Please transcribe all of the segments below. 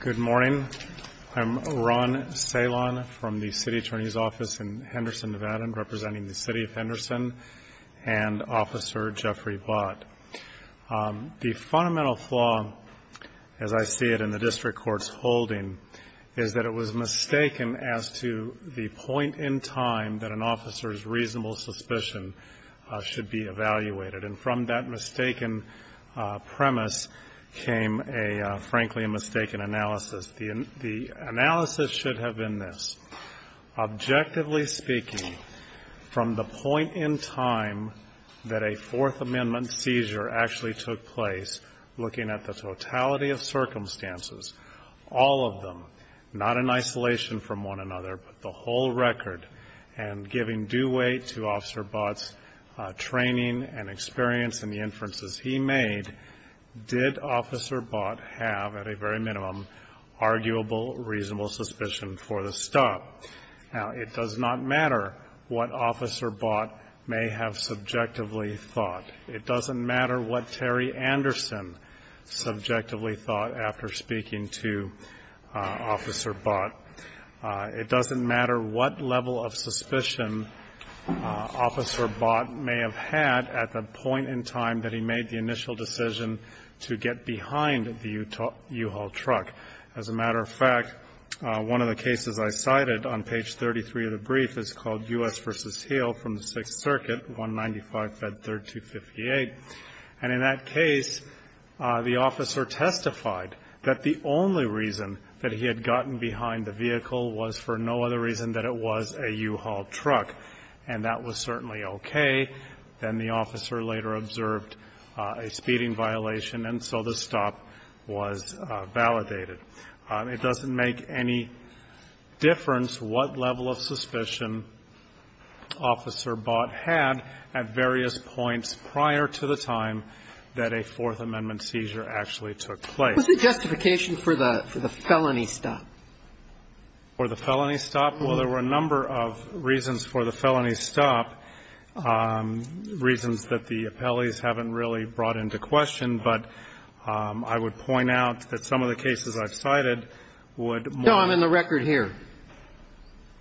Good morning. I'm Ron Salon from the City Attorney's Office in Henderson, Nevada, representing the City of Henderson and Officer Jeffrey Blott. The fundamental flaw, as I see it in the district court's holding, is that it was mistaken as to the point in time that an officer's reasonable suspicion should be evaluated. And from that mistaken premise came, frankly, a mistaken analysis. The analysis should have been this. Objectively speaking, from the point in time that a Fourth Amendment seizure actually took place, looking at the totality of circumstances, all of them, not in isolation from one another, but the whole record, and giving due weight to Officer Blott's training and experience and the inferences he made, did Officer Blott have, at a very minimum, arguable, reasonable suspicion for the stop? Now, it does not matter what Officer Blott may have subjectively thought. It doesn't matter what Terry Anderson subjectively thought after speaking to Officer Blott. It doesn't matter what level of suspicion Officer Blott may have had at the point in time that he made the initial decision to get behind the U-Haul truck. As a matter of fact, one of the cases I cited on page 33 of the brief is called U.S. v. Hill from the Sixth Circuit, 195-3258. And in that case, the officer testified that the only reason that he had gotten behind the vehicle was for no other reason than it was a U-Haul truck, and that was certainly okay. Then the officer later observed a speeding violation, and so the stop was validated. It doesn't make any difference what level of suspicion Officer Blott had at various points prior to the stop. points prior to the stop. It doesn't make any difference what level of suspicion Officer Blott had at various points prior to the time that a Fourth Amendment seizure actually took place. What's the justification for the felony stop? For the felony stop? Well, there were a number of reasons for the felony stop, reasons that the appellees haven't really brought into question, but I would point out that some of the cases I've cited would more. No, I'm in the record here.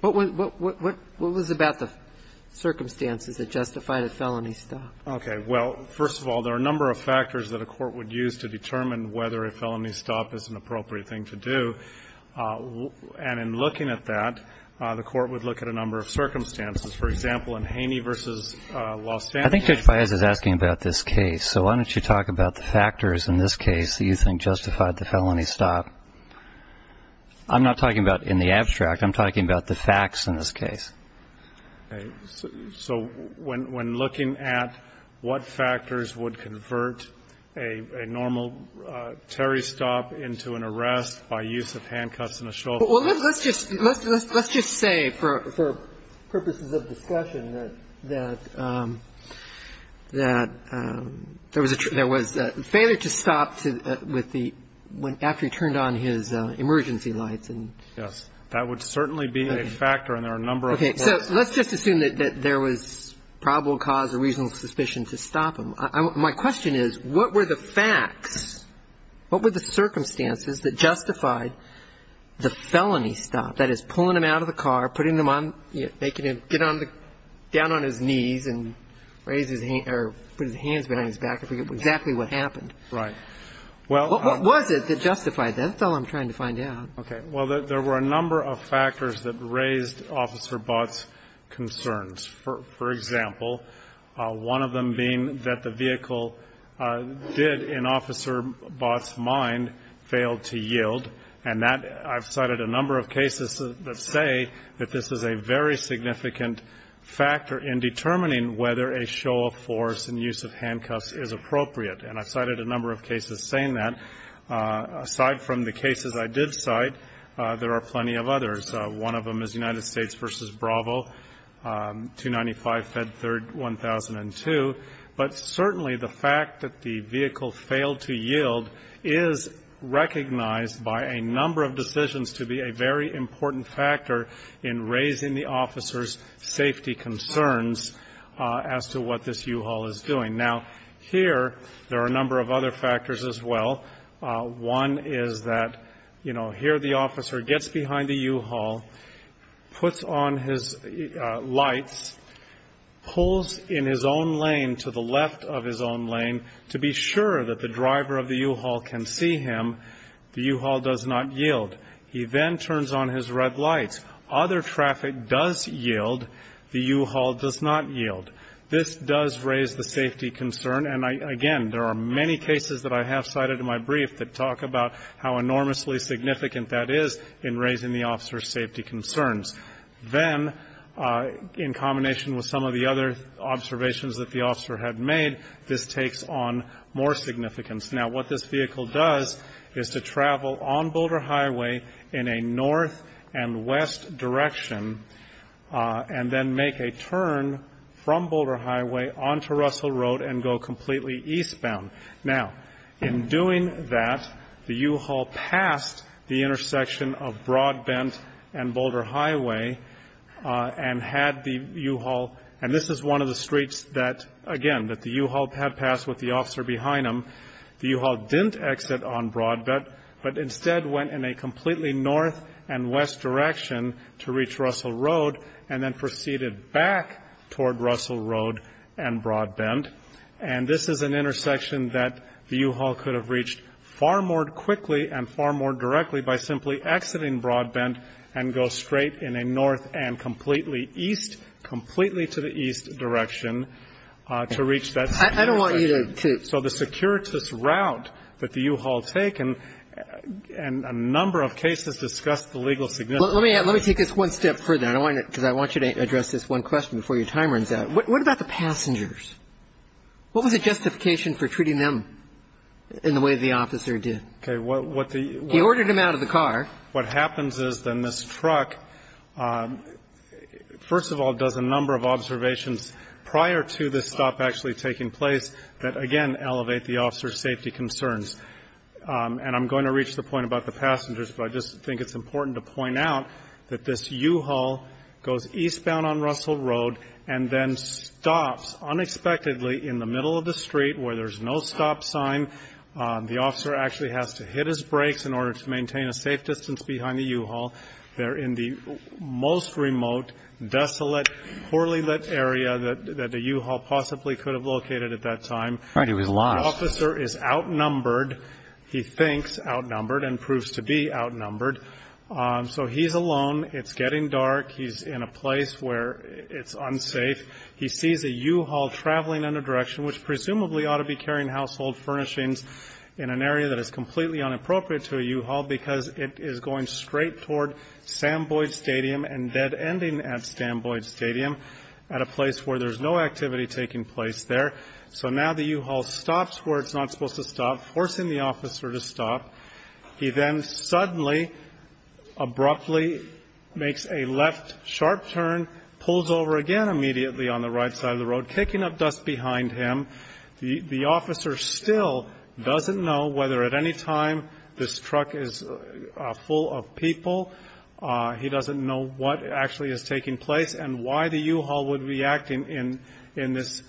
What was about the circumstances that justified a felony stop? Okay. Well, first of all, there are a number of factors that a court would use to determine whether a felony stop is an appropriate thing to do. And in looking at that, the court would look at a number of circumstances. For example, in Haney v. Los Angeles. I think Judge Baez is asking about this case, so why don't you talk about the factors in this case that you think justified the felony stop? I'm not talking about in the abstract. I'm talking about the facts in this case. Okay. So when looking at what factors would convert a normal Terry stop into an arrest by use of handcuffs and a shovel? Well, let's just say, for purposes of discussion, that there was a failure to stop with the one after he turned on his emergency lights. Yes. That would certainly be a factor. Okay. And there are a number of other factors. Okay. So let's just assume that there was probable cause or reasonable suspicion to stop him. My question is, what were the facts, what were the circumstances that justified the felony stop? That is, pulling him out of the car, putting him on, making him get down on his knees and raise his hands or put his hands behind his back, exactly what happened. Right. What was it that justified that? That's all I'm trying to find out. Okay. Well, there were a number of factors that raised Officer Bott's concerns. For example, one of them being that the vehicle did, in Officer Bott's mind, fail to yield. And that, I've cited a number of cases that say that this is a very significant factor in determining whether a show of force and use of handcuffs is appropriate. And I've cited a number of cases saying that. Aside from the cases I did cite, there are plenty of others. One of them is United States v. Bravo, 295 Fed Third 1002. But certainly the fact that the vehicle failed to yield is recognized by a number of decisions to be a very important factor in raising the officer's safety concerns as to what this U-Haul is doing. Now, here there are a number of other factors as well. One is that, you know, here the officer gets behind the U-Haul, puts on his lights, pulls in his own lane to the left of his own lane to be sure that the driver of the U-Haul can see him. The U-Haul does not yield. He then turns on his red lights. Other traffic does yield. The U-Haul does not yield. This does raise the safety concern. And, again, there are many cases that I have cited in my brief that talk about how enormously significant that is in raising the officer's safety concerns. Then, in combination with some of the other observations that the officer had made, this takes on more significance. Now, what this vehicle does is to travel on Boulder Highway in a north and west direction and then make a turn from Boulder Highway onto Russell Road and go completely eastbound. Now, in doing that, the U-Haul passed the intersection of Broadbent and Boulder Highway and had the U-Haul, and this is one of the streets that, again, that the U-Haul had passed with the officer behind him. The U-Haul didn't exit on Broadbent but instead went in a completely north and west direction to reach Russell Road and then proceeded back toward Russell Road and Broadbent. And this is an intersection that the U-Haul could have reached far more quickly and far more directly by simply exiting Broadbent and go straight in a north and completely east, completely to the east direction, to reach that security. So the securitist route that the U-Haul taken, and a number of cases discussed the legal significance. Let me take this one step further, because I want you to address this one question before your time runs out. What about the passengers? What was the justification for treating them in the way the officer did? Okay. He ordered them out of the car. What happens is then this truck, first of all, does a number of observations prior to this stop actually taking place that, again, elevate the officer's safety concerns. And I'm going to reach the point about the passengers, but I just think it's important to point out that this U-Haul goes eastbound on Russell Road and then stops unexpectedly in the middle of the street where there's no stop sign. The officer actually has to hit his brakes in order to maintain a safe distance behind the U-Haul. They're in the most remote, desolate, poorly lit area that the U-Haul possibly could have located at that time. It was lost. The officer is outnumbered. He thinks outnumbered and proves to be outnumbered. So he's alone. It's getting dark. He's in a place where it's unsafe. He sees a U-Haul traveling in a direction which presumably ought to be carrying household furnishings in an area that is completely inappropriate to a U-Haul because it is going straight toward Sam Boyd Stadium and dead-ending at Sam Boyd Stadium at a place where there's no activity taking place there. So now the U-Haul stops where it's not supposed to stop, forcing the officer to stop. He then suddenly, abruptly makes a left sharp turn, pulls over again immediately on the right side of the road, kicking up dust behind him. The officer still doesn't know whether at any time this truck is full of people. He doesn't know what actually is taking place and why the U-Haul would be acting in this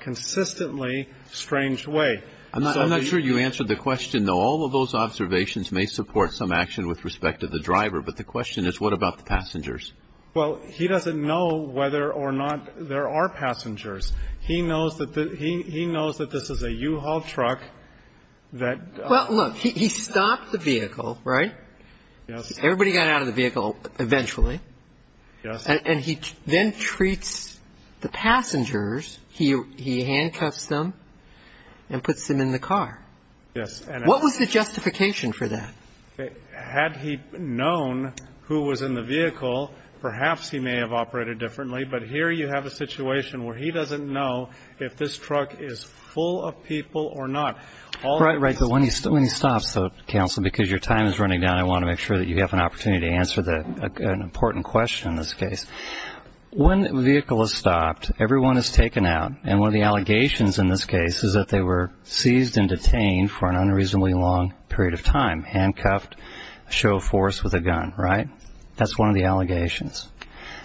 consistently strange way. I'm not sure you answered the question, though. All of those observations may support some action with respect to the driver, but the question is what about the passengers? Well, he doesn't know whether or not there are passengers. He knows that this is a U-Haul truck that- Well, look, he stopped the vehicle, right? Yes. Everybody got out of the vehicle eventually. Yes. And he then treats the passengers, he handcuffs them and puts them in the car. Yes. What was the justification for that? Had he known who was in the vehicle, perhaps he may have operated differently, but here you have a situation where he doesn't know if this truck is full of people or not. Right, right, but when he stops, Counsel, because your time is running down, I want to make sure that you have an opportunity to answer an important question in this case. When the vehicle is stopped, everyone is taken out, and one of the allegations in this case is that they were seized and detained for an unreasonably long period of time, handcuffed, show of force with a gun, right? That's one of the allegations.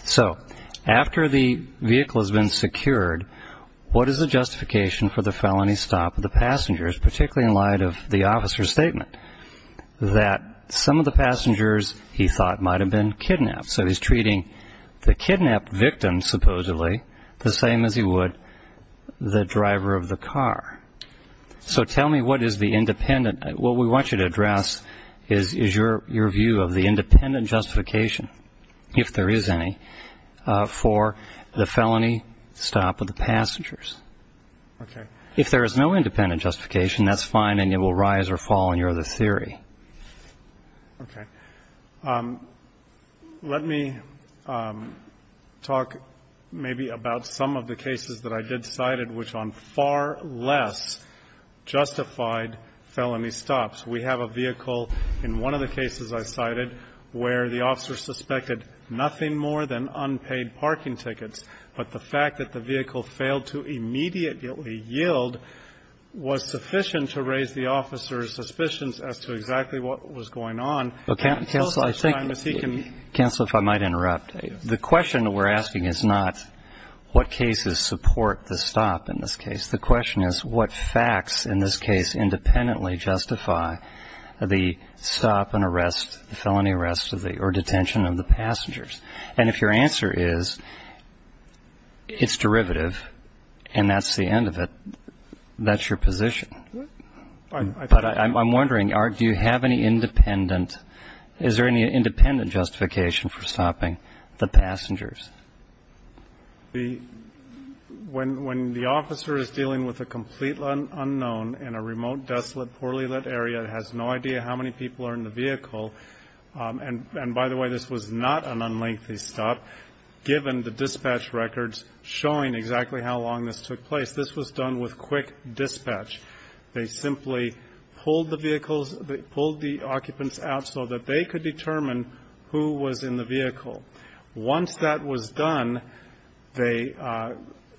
So after the vehicle has been secured, what is the justification for the felony stop of the passengers, particularly in light of the officer's statement that some of the passengers he thought might have been kidnapped. So he's treating the kidnapped victim, supposedly, the same as he would the driver of the car. So tell me what is the independent, what we want you to address is your view of the independent justification, if there is any, for the felony stop of the passengers. Okay. If there is no independent justification, that's fine, and it will rise or fall in your other theory. Okay. Let me talk maybe about some of the cases that I did cite, which on far less justified felony stops. We have a vehicle in one of the cases I cited where the officer suspected nothing more than unpaid parking tickets, but the fact that the vehicle failed to immediately yield was sufficient to raise the officer's suspicions as to exactly what was going on. Counsel, if I might interrupt. The question we're asking is not what cases support the stop in this case. The question is what facts in this case independently justify the stop and arrest, felony arrest or detention of the passengers. And if your answer is it's derivative and that's the end of it, that's your position. But I'm wondering, do you have any independent, is there any independent justification for stopping the passengers? When the officer is dealing with a complete unknown in a remote, desolate, poorly lit area, has no idea how many people are in the vehicle, and by the way, this was not an unlengthy stop, given the dispatch records showing exactly how long this took place. This was done with quick dispatch. They simply pulled the occupants out so that they could determine who was in the vehicle. Once that was done, they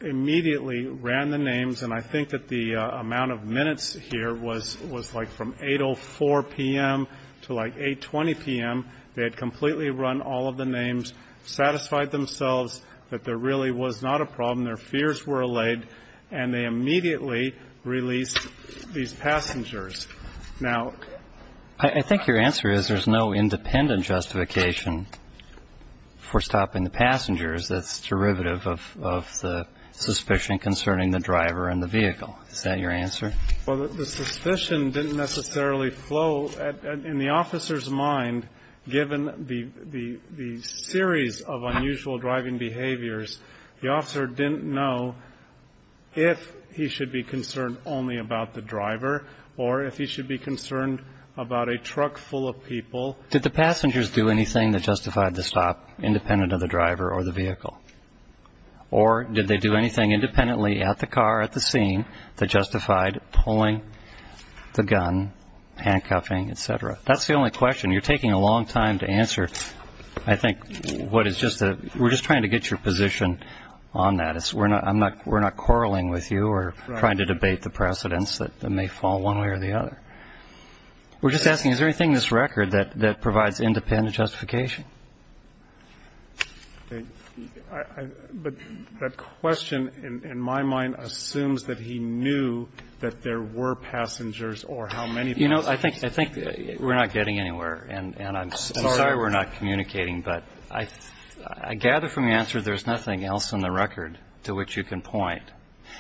immediately ran the names, and I think that the amount of minutes here was like from 8.04 p.m. to like 8.20 p.m. They had completely run all of the names, satisfied themselves that there really was not a problem, their fears were allayed, and they immediately released these passengers. Now, I think your answer is there's no independent justification for stopping that's derivative of the suspicion concerning the driver and the vehicle. Is that your answer? Well, the suspicion didn't necessarily flow. In the officer's mind, given the series of unusual driving behaviors, the officer didn't know if he should be concerned only about the driver or if he should be concerned about a truck full of people. Did the passengers do anything that justified the stop independent of the driver or the vehicle? Or did they do anything independently at the car, at the scene, that justified pulling the gun, handcuffing, et cetera? That's the only question. You're taking a long time to answer, I think. We're just trying to get your position on that. We're not quarreling with you or trying to debate the precedents that may fall one way or the other. We're just asking, is there anything in this record that provides independent justification? But that question, in my mind, assumes that he knew that there were passengers or how many passengers. You know, I think we're not getting anywhere, and I'm sorry we're not communicating. But I gather from your answer there's nothing else in the record to which you can point.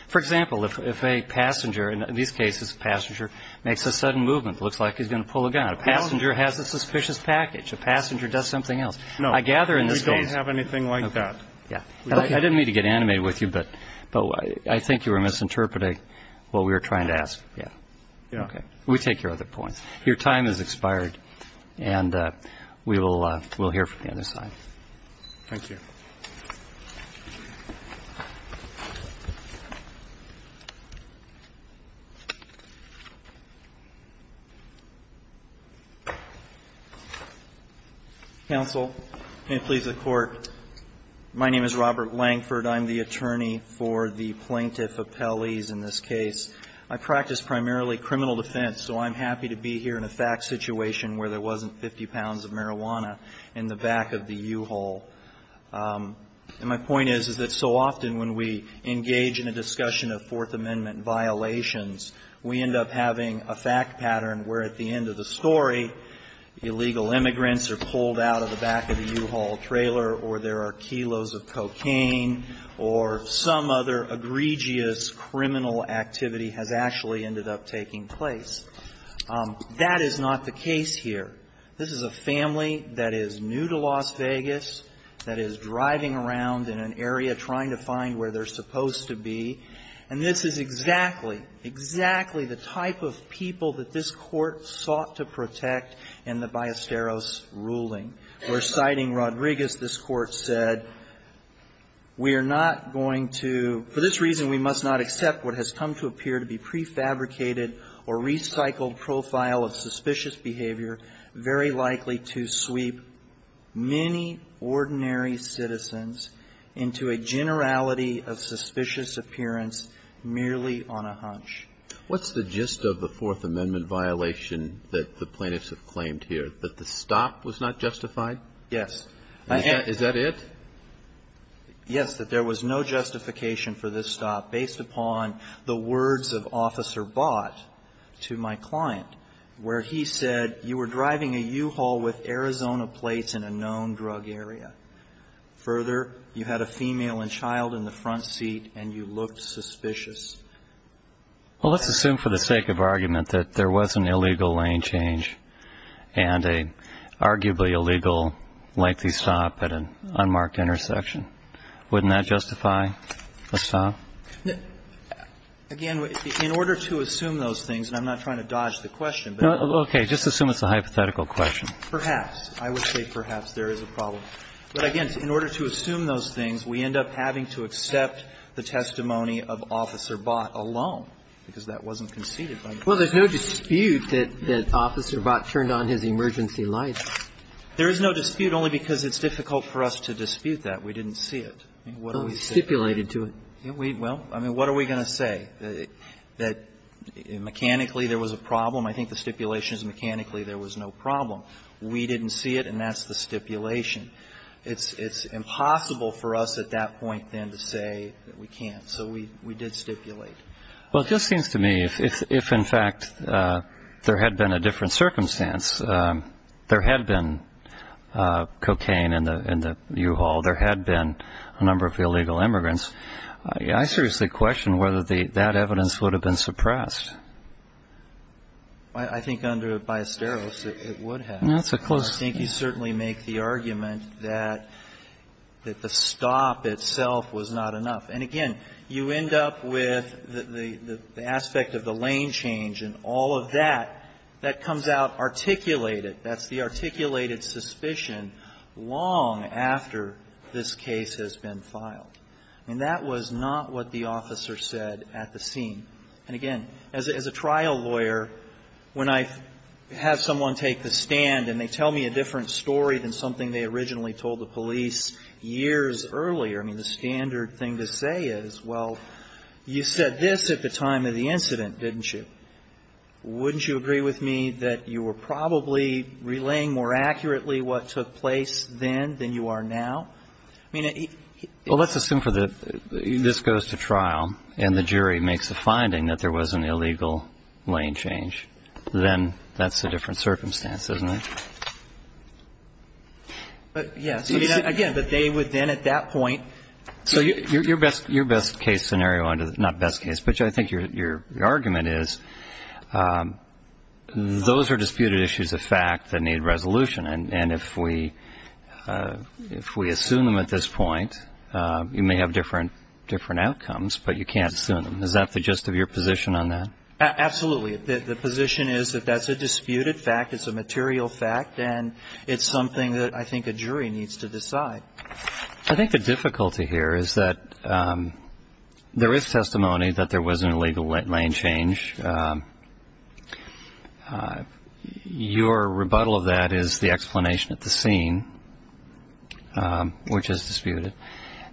For example, if a passenger, in these cases, a passenger makes a sudden movement, looks like he's going to pull a gun. A passenger has a suspicious package. A passenger does something else. No. I gather in this case. We don't have anything like that. Yeah. I didn't mean to get animated with you, but I think you were misinterpreting what we were trying to ask. Yeah. Yeah. Okay. We take your other points. Your time has expired, and we'll hear from the other side. Thank you. Roberts. Counsel, and please, the Court. My name is Robert Langford. I'm the attorney for the plaintiff, Appellee's, in this case. I practice primarily criminal defense, so I'm happy to be here in a fact situation where there wasn't 50 pounds of marijuana in the back of the U-Haul. And my point is, is that so often when we engage in a discussion of Fourth Amendment violations, we end up having a fact pattern where at the end of the story, illegal immigrants are pulled out of the back of the U-Haul trailer, or there are kilos of cocaine, or some other egregious criminal activity has actually ended up taking place. That is not the case here. This is a family that is new to Las Vegas, that is driving around in an area trying to find where they're supposed to be, and this is exactly, exactly the type of people that this Court sought to protect in the Ballesteros ruling. We're citing Rodriguez. This Court said, we are not going to — for this reason, we must not accept what has come to appear to be prefabricated or recycled profile of suspicious behavior very likely to sweep many ordinary citizens into a generality of suspicious appearance merely on a hunch. What's the gist of the Fourth Amendment violation that the plaintiffs have claimed here, that the stop was not justified? Yes. Is that it? Yes, that there was no justification for this stop based upon the words of Officer Bott to my client, where he said, you were driving a U-Haul with Arizona plates in a known drug area. Further, you had a female and child in the front seat, and you looked suspicious. Well, let's assume for the sake of argument that there was an illegal lane change and an arguably illegal lengthy stop at an unmarked intersection, wouldn't that justify a stop? Again, in order to assume those things, and I'm not trying to dodge the question but — Okay. Just assume it's a hypothetical question. Perhaps. I would say perhaps there is a problem. But again, in order to assume those things, we end up having to accept the testimony of Officer Bott alone, because that wasn't conceded by the Court. Well, there's no dispute that Officer Bott turned on his emergency lights. There is no dispute, only because it's difficult for us to dispute that. We didn't see it. We stipulated to it. Well, I mean, what are we going to say, that mechanically there was a problem? I think the stipulation is mechanically there was no problem. We didn't see it, and that's the stipulation. It's impossible for us at that point, then, to say that we can't. So we did stipulate. Well, it just seems to me if, in fact, there had been a different circumstance, there had been cocaine in the U-Haul, there had been a number of illegal immigrants, I seriously question whether that evidence would have been suppressed. I think under Biasteros it would have. No, it's a close — I think you certainly make the argument that the stop itself was not enough. And, again, you end up with the aspect of the lane change and all of that, that comes out articulated. That's the articulated suspicion long after this case has been filed. And that was not what the officer said at the scene. And, again, as a trial lawyer, when I have someone take the stand and they tell me a different story than something they originally told the police years earlier, I mean, the standard thing to say is, well, you said this at the time of the incident, didn't you? Wouldn't you agree with me that you were probably relaying more accurately what took place then than you are now? I mean, it's — Well, let's assume for the — this goes to trial and the jury makes the finding that there was an illegal lane change. Then that's a different circumstance, isn't it? Yes. I mean, again, but they would then at that point — Your best case scenario — not best case, but I think your argument is those are disputed issues of fact that need resolution. And if we assume them at this point, you may have different outcomes, but you can't assume them. Is that the gist of your position on that? Absolutely. The position is that that's a disputed fact, it's a material fact, and it's something that I think a jury needs to decide. I think the difficulty here is that there is testimony that there was an illegal lane change. Your rebuttal of that is the explanation at the scene, which is disputed.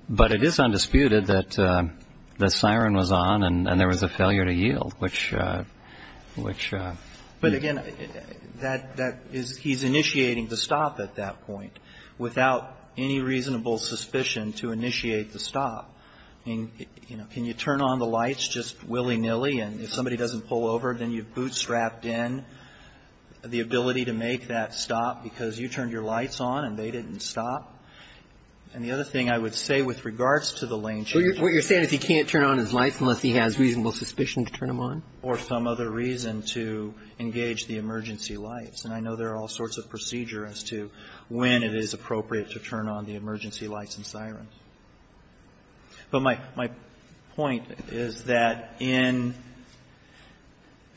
But it is undisputed that the siren was on and there was a failure to yield, which — But again, that is — he's initiating the stop at that point without any reasonable suspicion to initiate the stop. I mean, you know, can you turn on the lights just willy-nilly and if somebody doesn't pull over, then you bootstrapped in the ability to make that stop because you turned your lights on and they didn't stop? And the other thing I would say with regards to the lane change — What you're saying is he can't turn on his lights unless he has reasonable suspicion to turn them on? Or some other reason to engage the emergency lights. And I know there are all sorts of procedure as to when it is appropriate to turn on the emergency lights and sirens. But my — my point is that in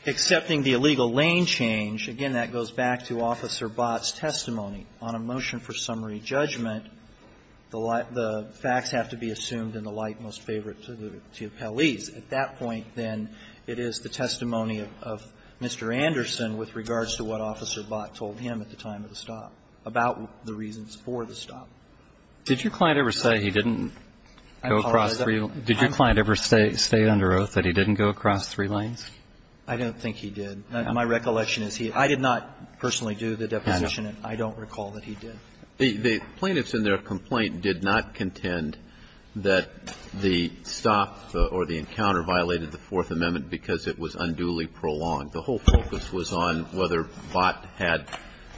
accepting the illegal lane change, again, that goes back to Officer Bott's testimony. On a motion for summary judgment, the facts have to be assumed in the light most favorable to the police. At that point, then, it is the testimony of Mr. Anderson with regards to what Officer Bott told him at the time of the stop about the reasons for the stop. Did your client ever say he didn't go across three — did your client ever say under oath that he didn't go across three lanes? I don't think he did. My recollection is he — I did not personally do the deposition, and I don't recall that he did. The plaintiffs in their complaint did not contend that the stop or the encounter violated the Fourth Amendment because it was unduly prolonged. The whole focus was on whether Bott had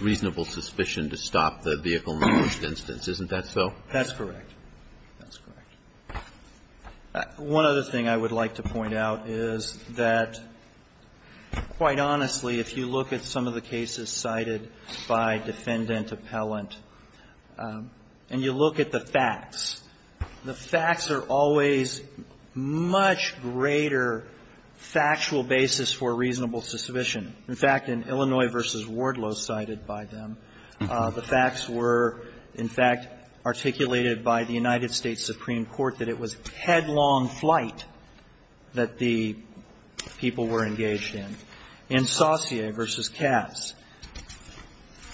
reasonable suspicion to stop the vehicle in the first instance. Isn't that so? That's correct. That's correct. One other thing I would like to point out is that, quite honestly, if you look at some of the cases cited by defendant, appellant, and you look at the facts, the facts are always much greater factual basis for reasonable suspicion. In fact, in Illinois v. Wardlow, cited by them, the facts were, in fact, articulated by the United States Supreme Court that it was headlong flight that the people were engaged in. In Saussure v. Cass,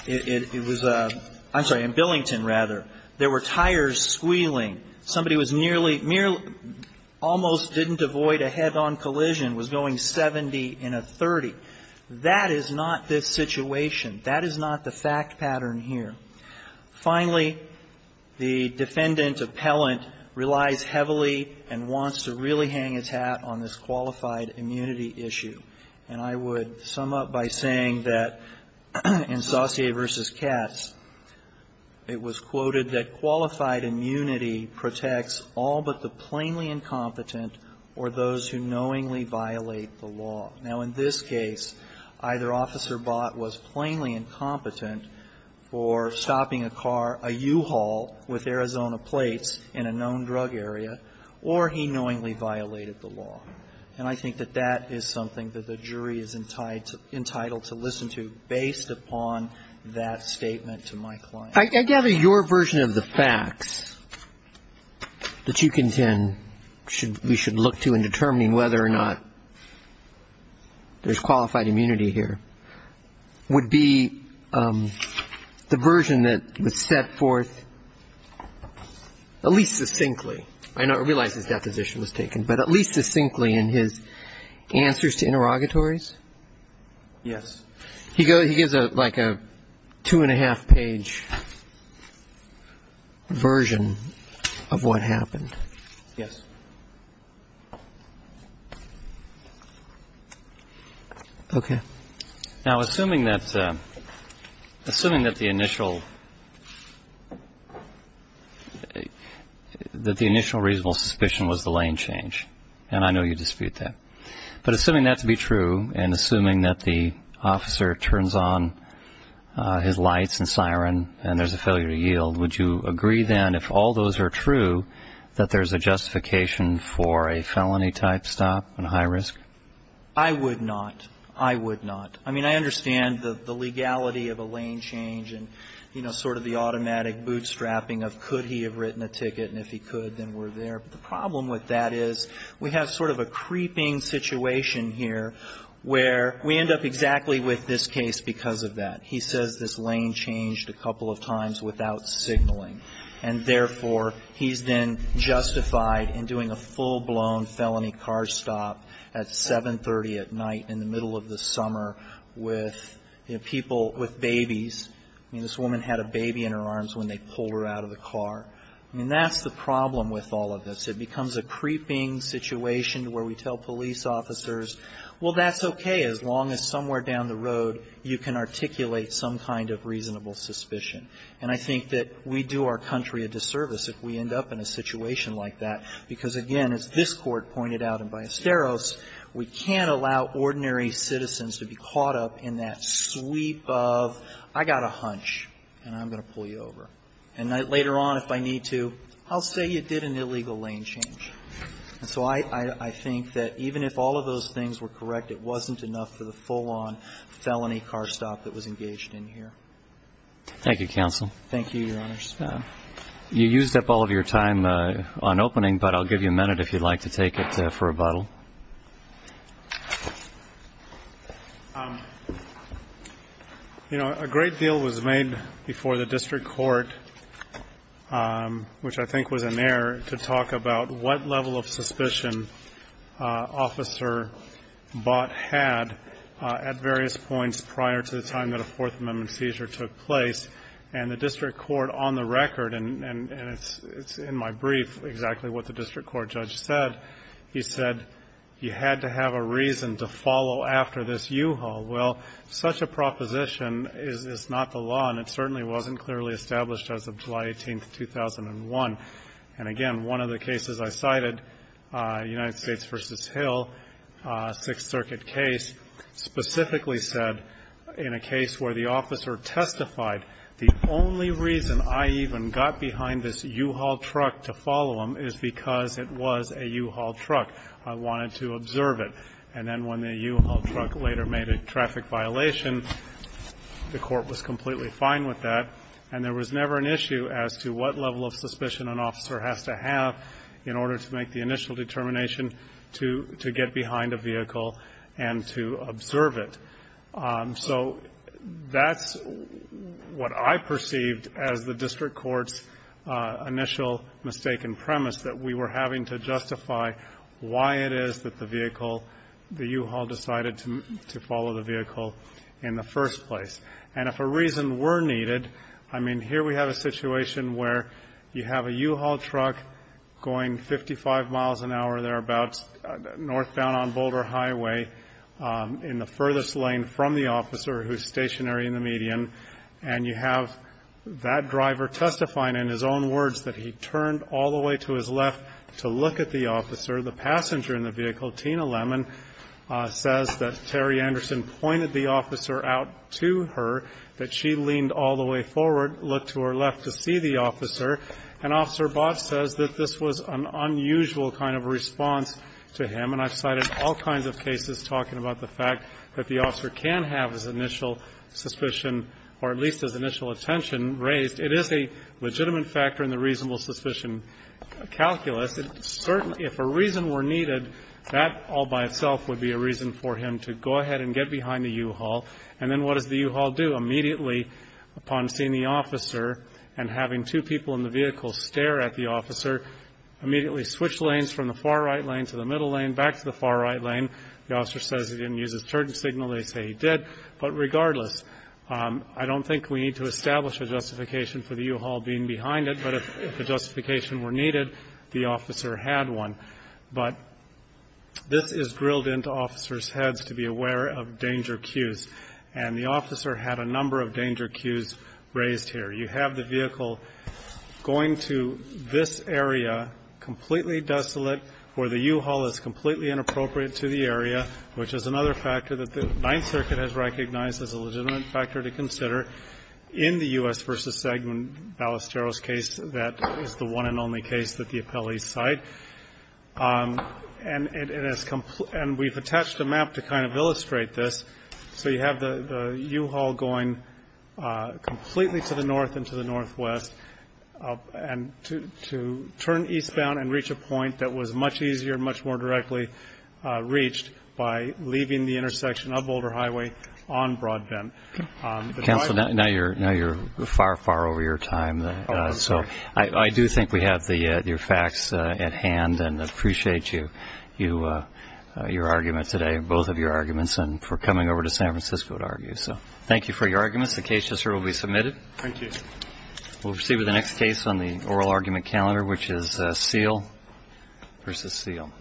it was — I'm sorry, in Billington, rather, there were tires squealing. Somebody was nearly — almost didn't avoid a head-on collision, was going 70 in a 30. That is not this situation. That is not the fact pattern here. Finally, the defendant, appellant, relies heavily and wants to really hang his hat on this qualified immunity issue. And I would sum up by saying that in Saussure v. Cass, it was quoted that qualified immunity protects all but the plainly incompetent or those who knowingly violate the law. Now, in this case, either Officer Bott was plainly incompetent for stopping a car, a U-Haul, with Arizona plates in a known drug area, or he knowingly violated the law. And I think that that is something that the jury is entitled to listen to based upon that statement to my client. I gather your version of the facts that you contend we should look to in determining whether or not there's qualified immunity here would be the version that was set forth at least succinctly. I realize his deposition was taken, but at least succinctly in his answers to interrogatories? Yes. He gives like a two-and-a-half-page version of what happened. Yes. Okay. Now, assuming that the initial reasonable suspicion was the lane change, and I know you dispute that, but assuming that to be true and assuming that the officer turns on his lights and siren and there's a failure to yield, would you agree then if all those are true that there's a justification for a felony-type stop and a high risk? I would not. I would not. I mean, I understand the legality of a lane change and, you know, sort of the automatic bootstrapping of could he have written a ticket, and if he could, then we're there. But the problem with that is we have sort of a creeping situation here where we end up exactly with this case because of that. He says this lane changed a couple of times without signaling. And therefore, he's then justified in doing a full-blown felony car stop at 730 at night in the middle of the summer with people, with babies. I mean, this woman had a baby in her arms when they pulled her out of the car. I mean, that's the problem with all of this. It becomes a creeping situation where we tell police officers, well, that's okay as long as somewhere down the road you can articulate some kind of reasonable suspicion. And I think that we do our country a disservice if we end up in a situation like that because, again, as this Court pointed out and by Asteros, we can't allow ordinary citizens to be caught up in that sweep of I got a hunch and I'm going to pull you over. And later on, if I need to, I'll say you did an illegal lane change. And so I think that even if all of those things were correct, it wasn't enough for the full-on felony car stop that was engaged in here. Thank you, counsel. Thank you, Your Honors. You used up all of your time on opening, but I'll give you a minute if you'd like to take it for rebuttal. You know, a great deal was made before the district court, which I think was in error, to talk about what level of suspicion Officer Bott had at various points prior to the time that a Fourth Amendment seizure took place. And the district court on the record, and it's in my brief exactly what the district court judge said, he said you had to have a reason to follow after this U-Haul. Well, such a proposition is not the law, and it certainly wasn't clearly established as of July 18, 2001. And, again, one of the cases I cited, United States v. Hill, Sixth Circuit case, specifically said in a case where the officer testified the only reason I even got behind this U-Haul truck to follow him is because it was a U-Haul truck. I wanted to observe it. And then when the U-Haul truck later made a traffic violation, the court was completely fine with that, and there was never an issue as to what level of suspicion an officer has to have in order to make the initial determination to get behind a vehicle and to observe it. So that's what I perceived as the district court's initial mistaken premise, that we were having to justify why it is that the vehicle, the U-Haul decided to follow the vehicle in the first place. And if a reason were needed, I mean, here we have a situation where you have a U-Haul truck going 55 miles an hour there about northbound on Boulder Highway in the furthest lane from the officer who is stationary in the median, and you have that driver testifying in his own words that he turned all the way to his left to look at the officer. The passenger in the vehicle, Tina Lemon, says that Terry Anderson pointed the officer out to her, that she leaned all the way forward, looked to her left to see the officer, and Officer Botch says that this was an unusual kind of response to him. And I've cited all kinds of cases talking about the fact that the officer can have his initial suspicion or at least his initial attention raised. It is a legitimate factor in the reasonable suspicion calculus. Certainly if a reason were needed, that all by itself would be a reason for him to go ahead and get behind the U-Haul. And then what does the U-Haul do? Immediately upon seeing the officer and having two people in the vehicle stare at the officer, immediately switch lanes from the far right lane to the middle lane, back to the far right lane. The officer says he didn't use his turn signal. They say he did. But regardless, I don't think we need to establish a justification for the U-Haul being behind it, but if a justification were needed, the officer had one. But this is grilled into officers' heads to be aware of danger cues. And the officer had a number of danger cues raised here. You have the vehicle going to this area, completely desolate, where the U-Haul is completely inappropriate to the area, which is another factor that the Ninth Circuit has recognized as a legitimate factor to consider. In the U.S. v. Segment Ballesteros case, that is the one and only case that the appellees cite. And we've attached a map to kind of illustrate this. So you have the U-Haul going completely to the north and to the northwest, and to turn eastbound and reach a point that was much easier, much more directly reached by leaving the intersection of Boulder Highway on Broadbent. Counsel, now you're far, far over your time. So I do think we have your facts at hand and appreciate you, your argument today, both of your arguments, and for coming over to San Francisco to argue. So thank you for your arguments. The case will be submitted. Thank you. We'll proceed with the next case on the oral argument calendar, which is Seale v. Seale.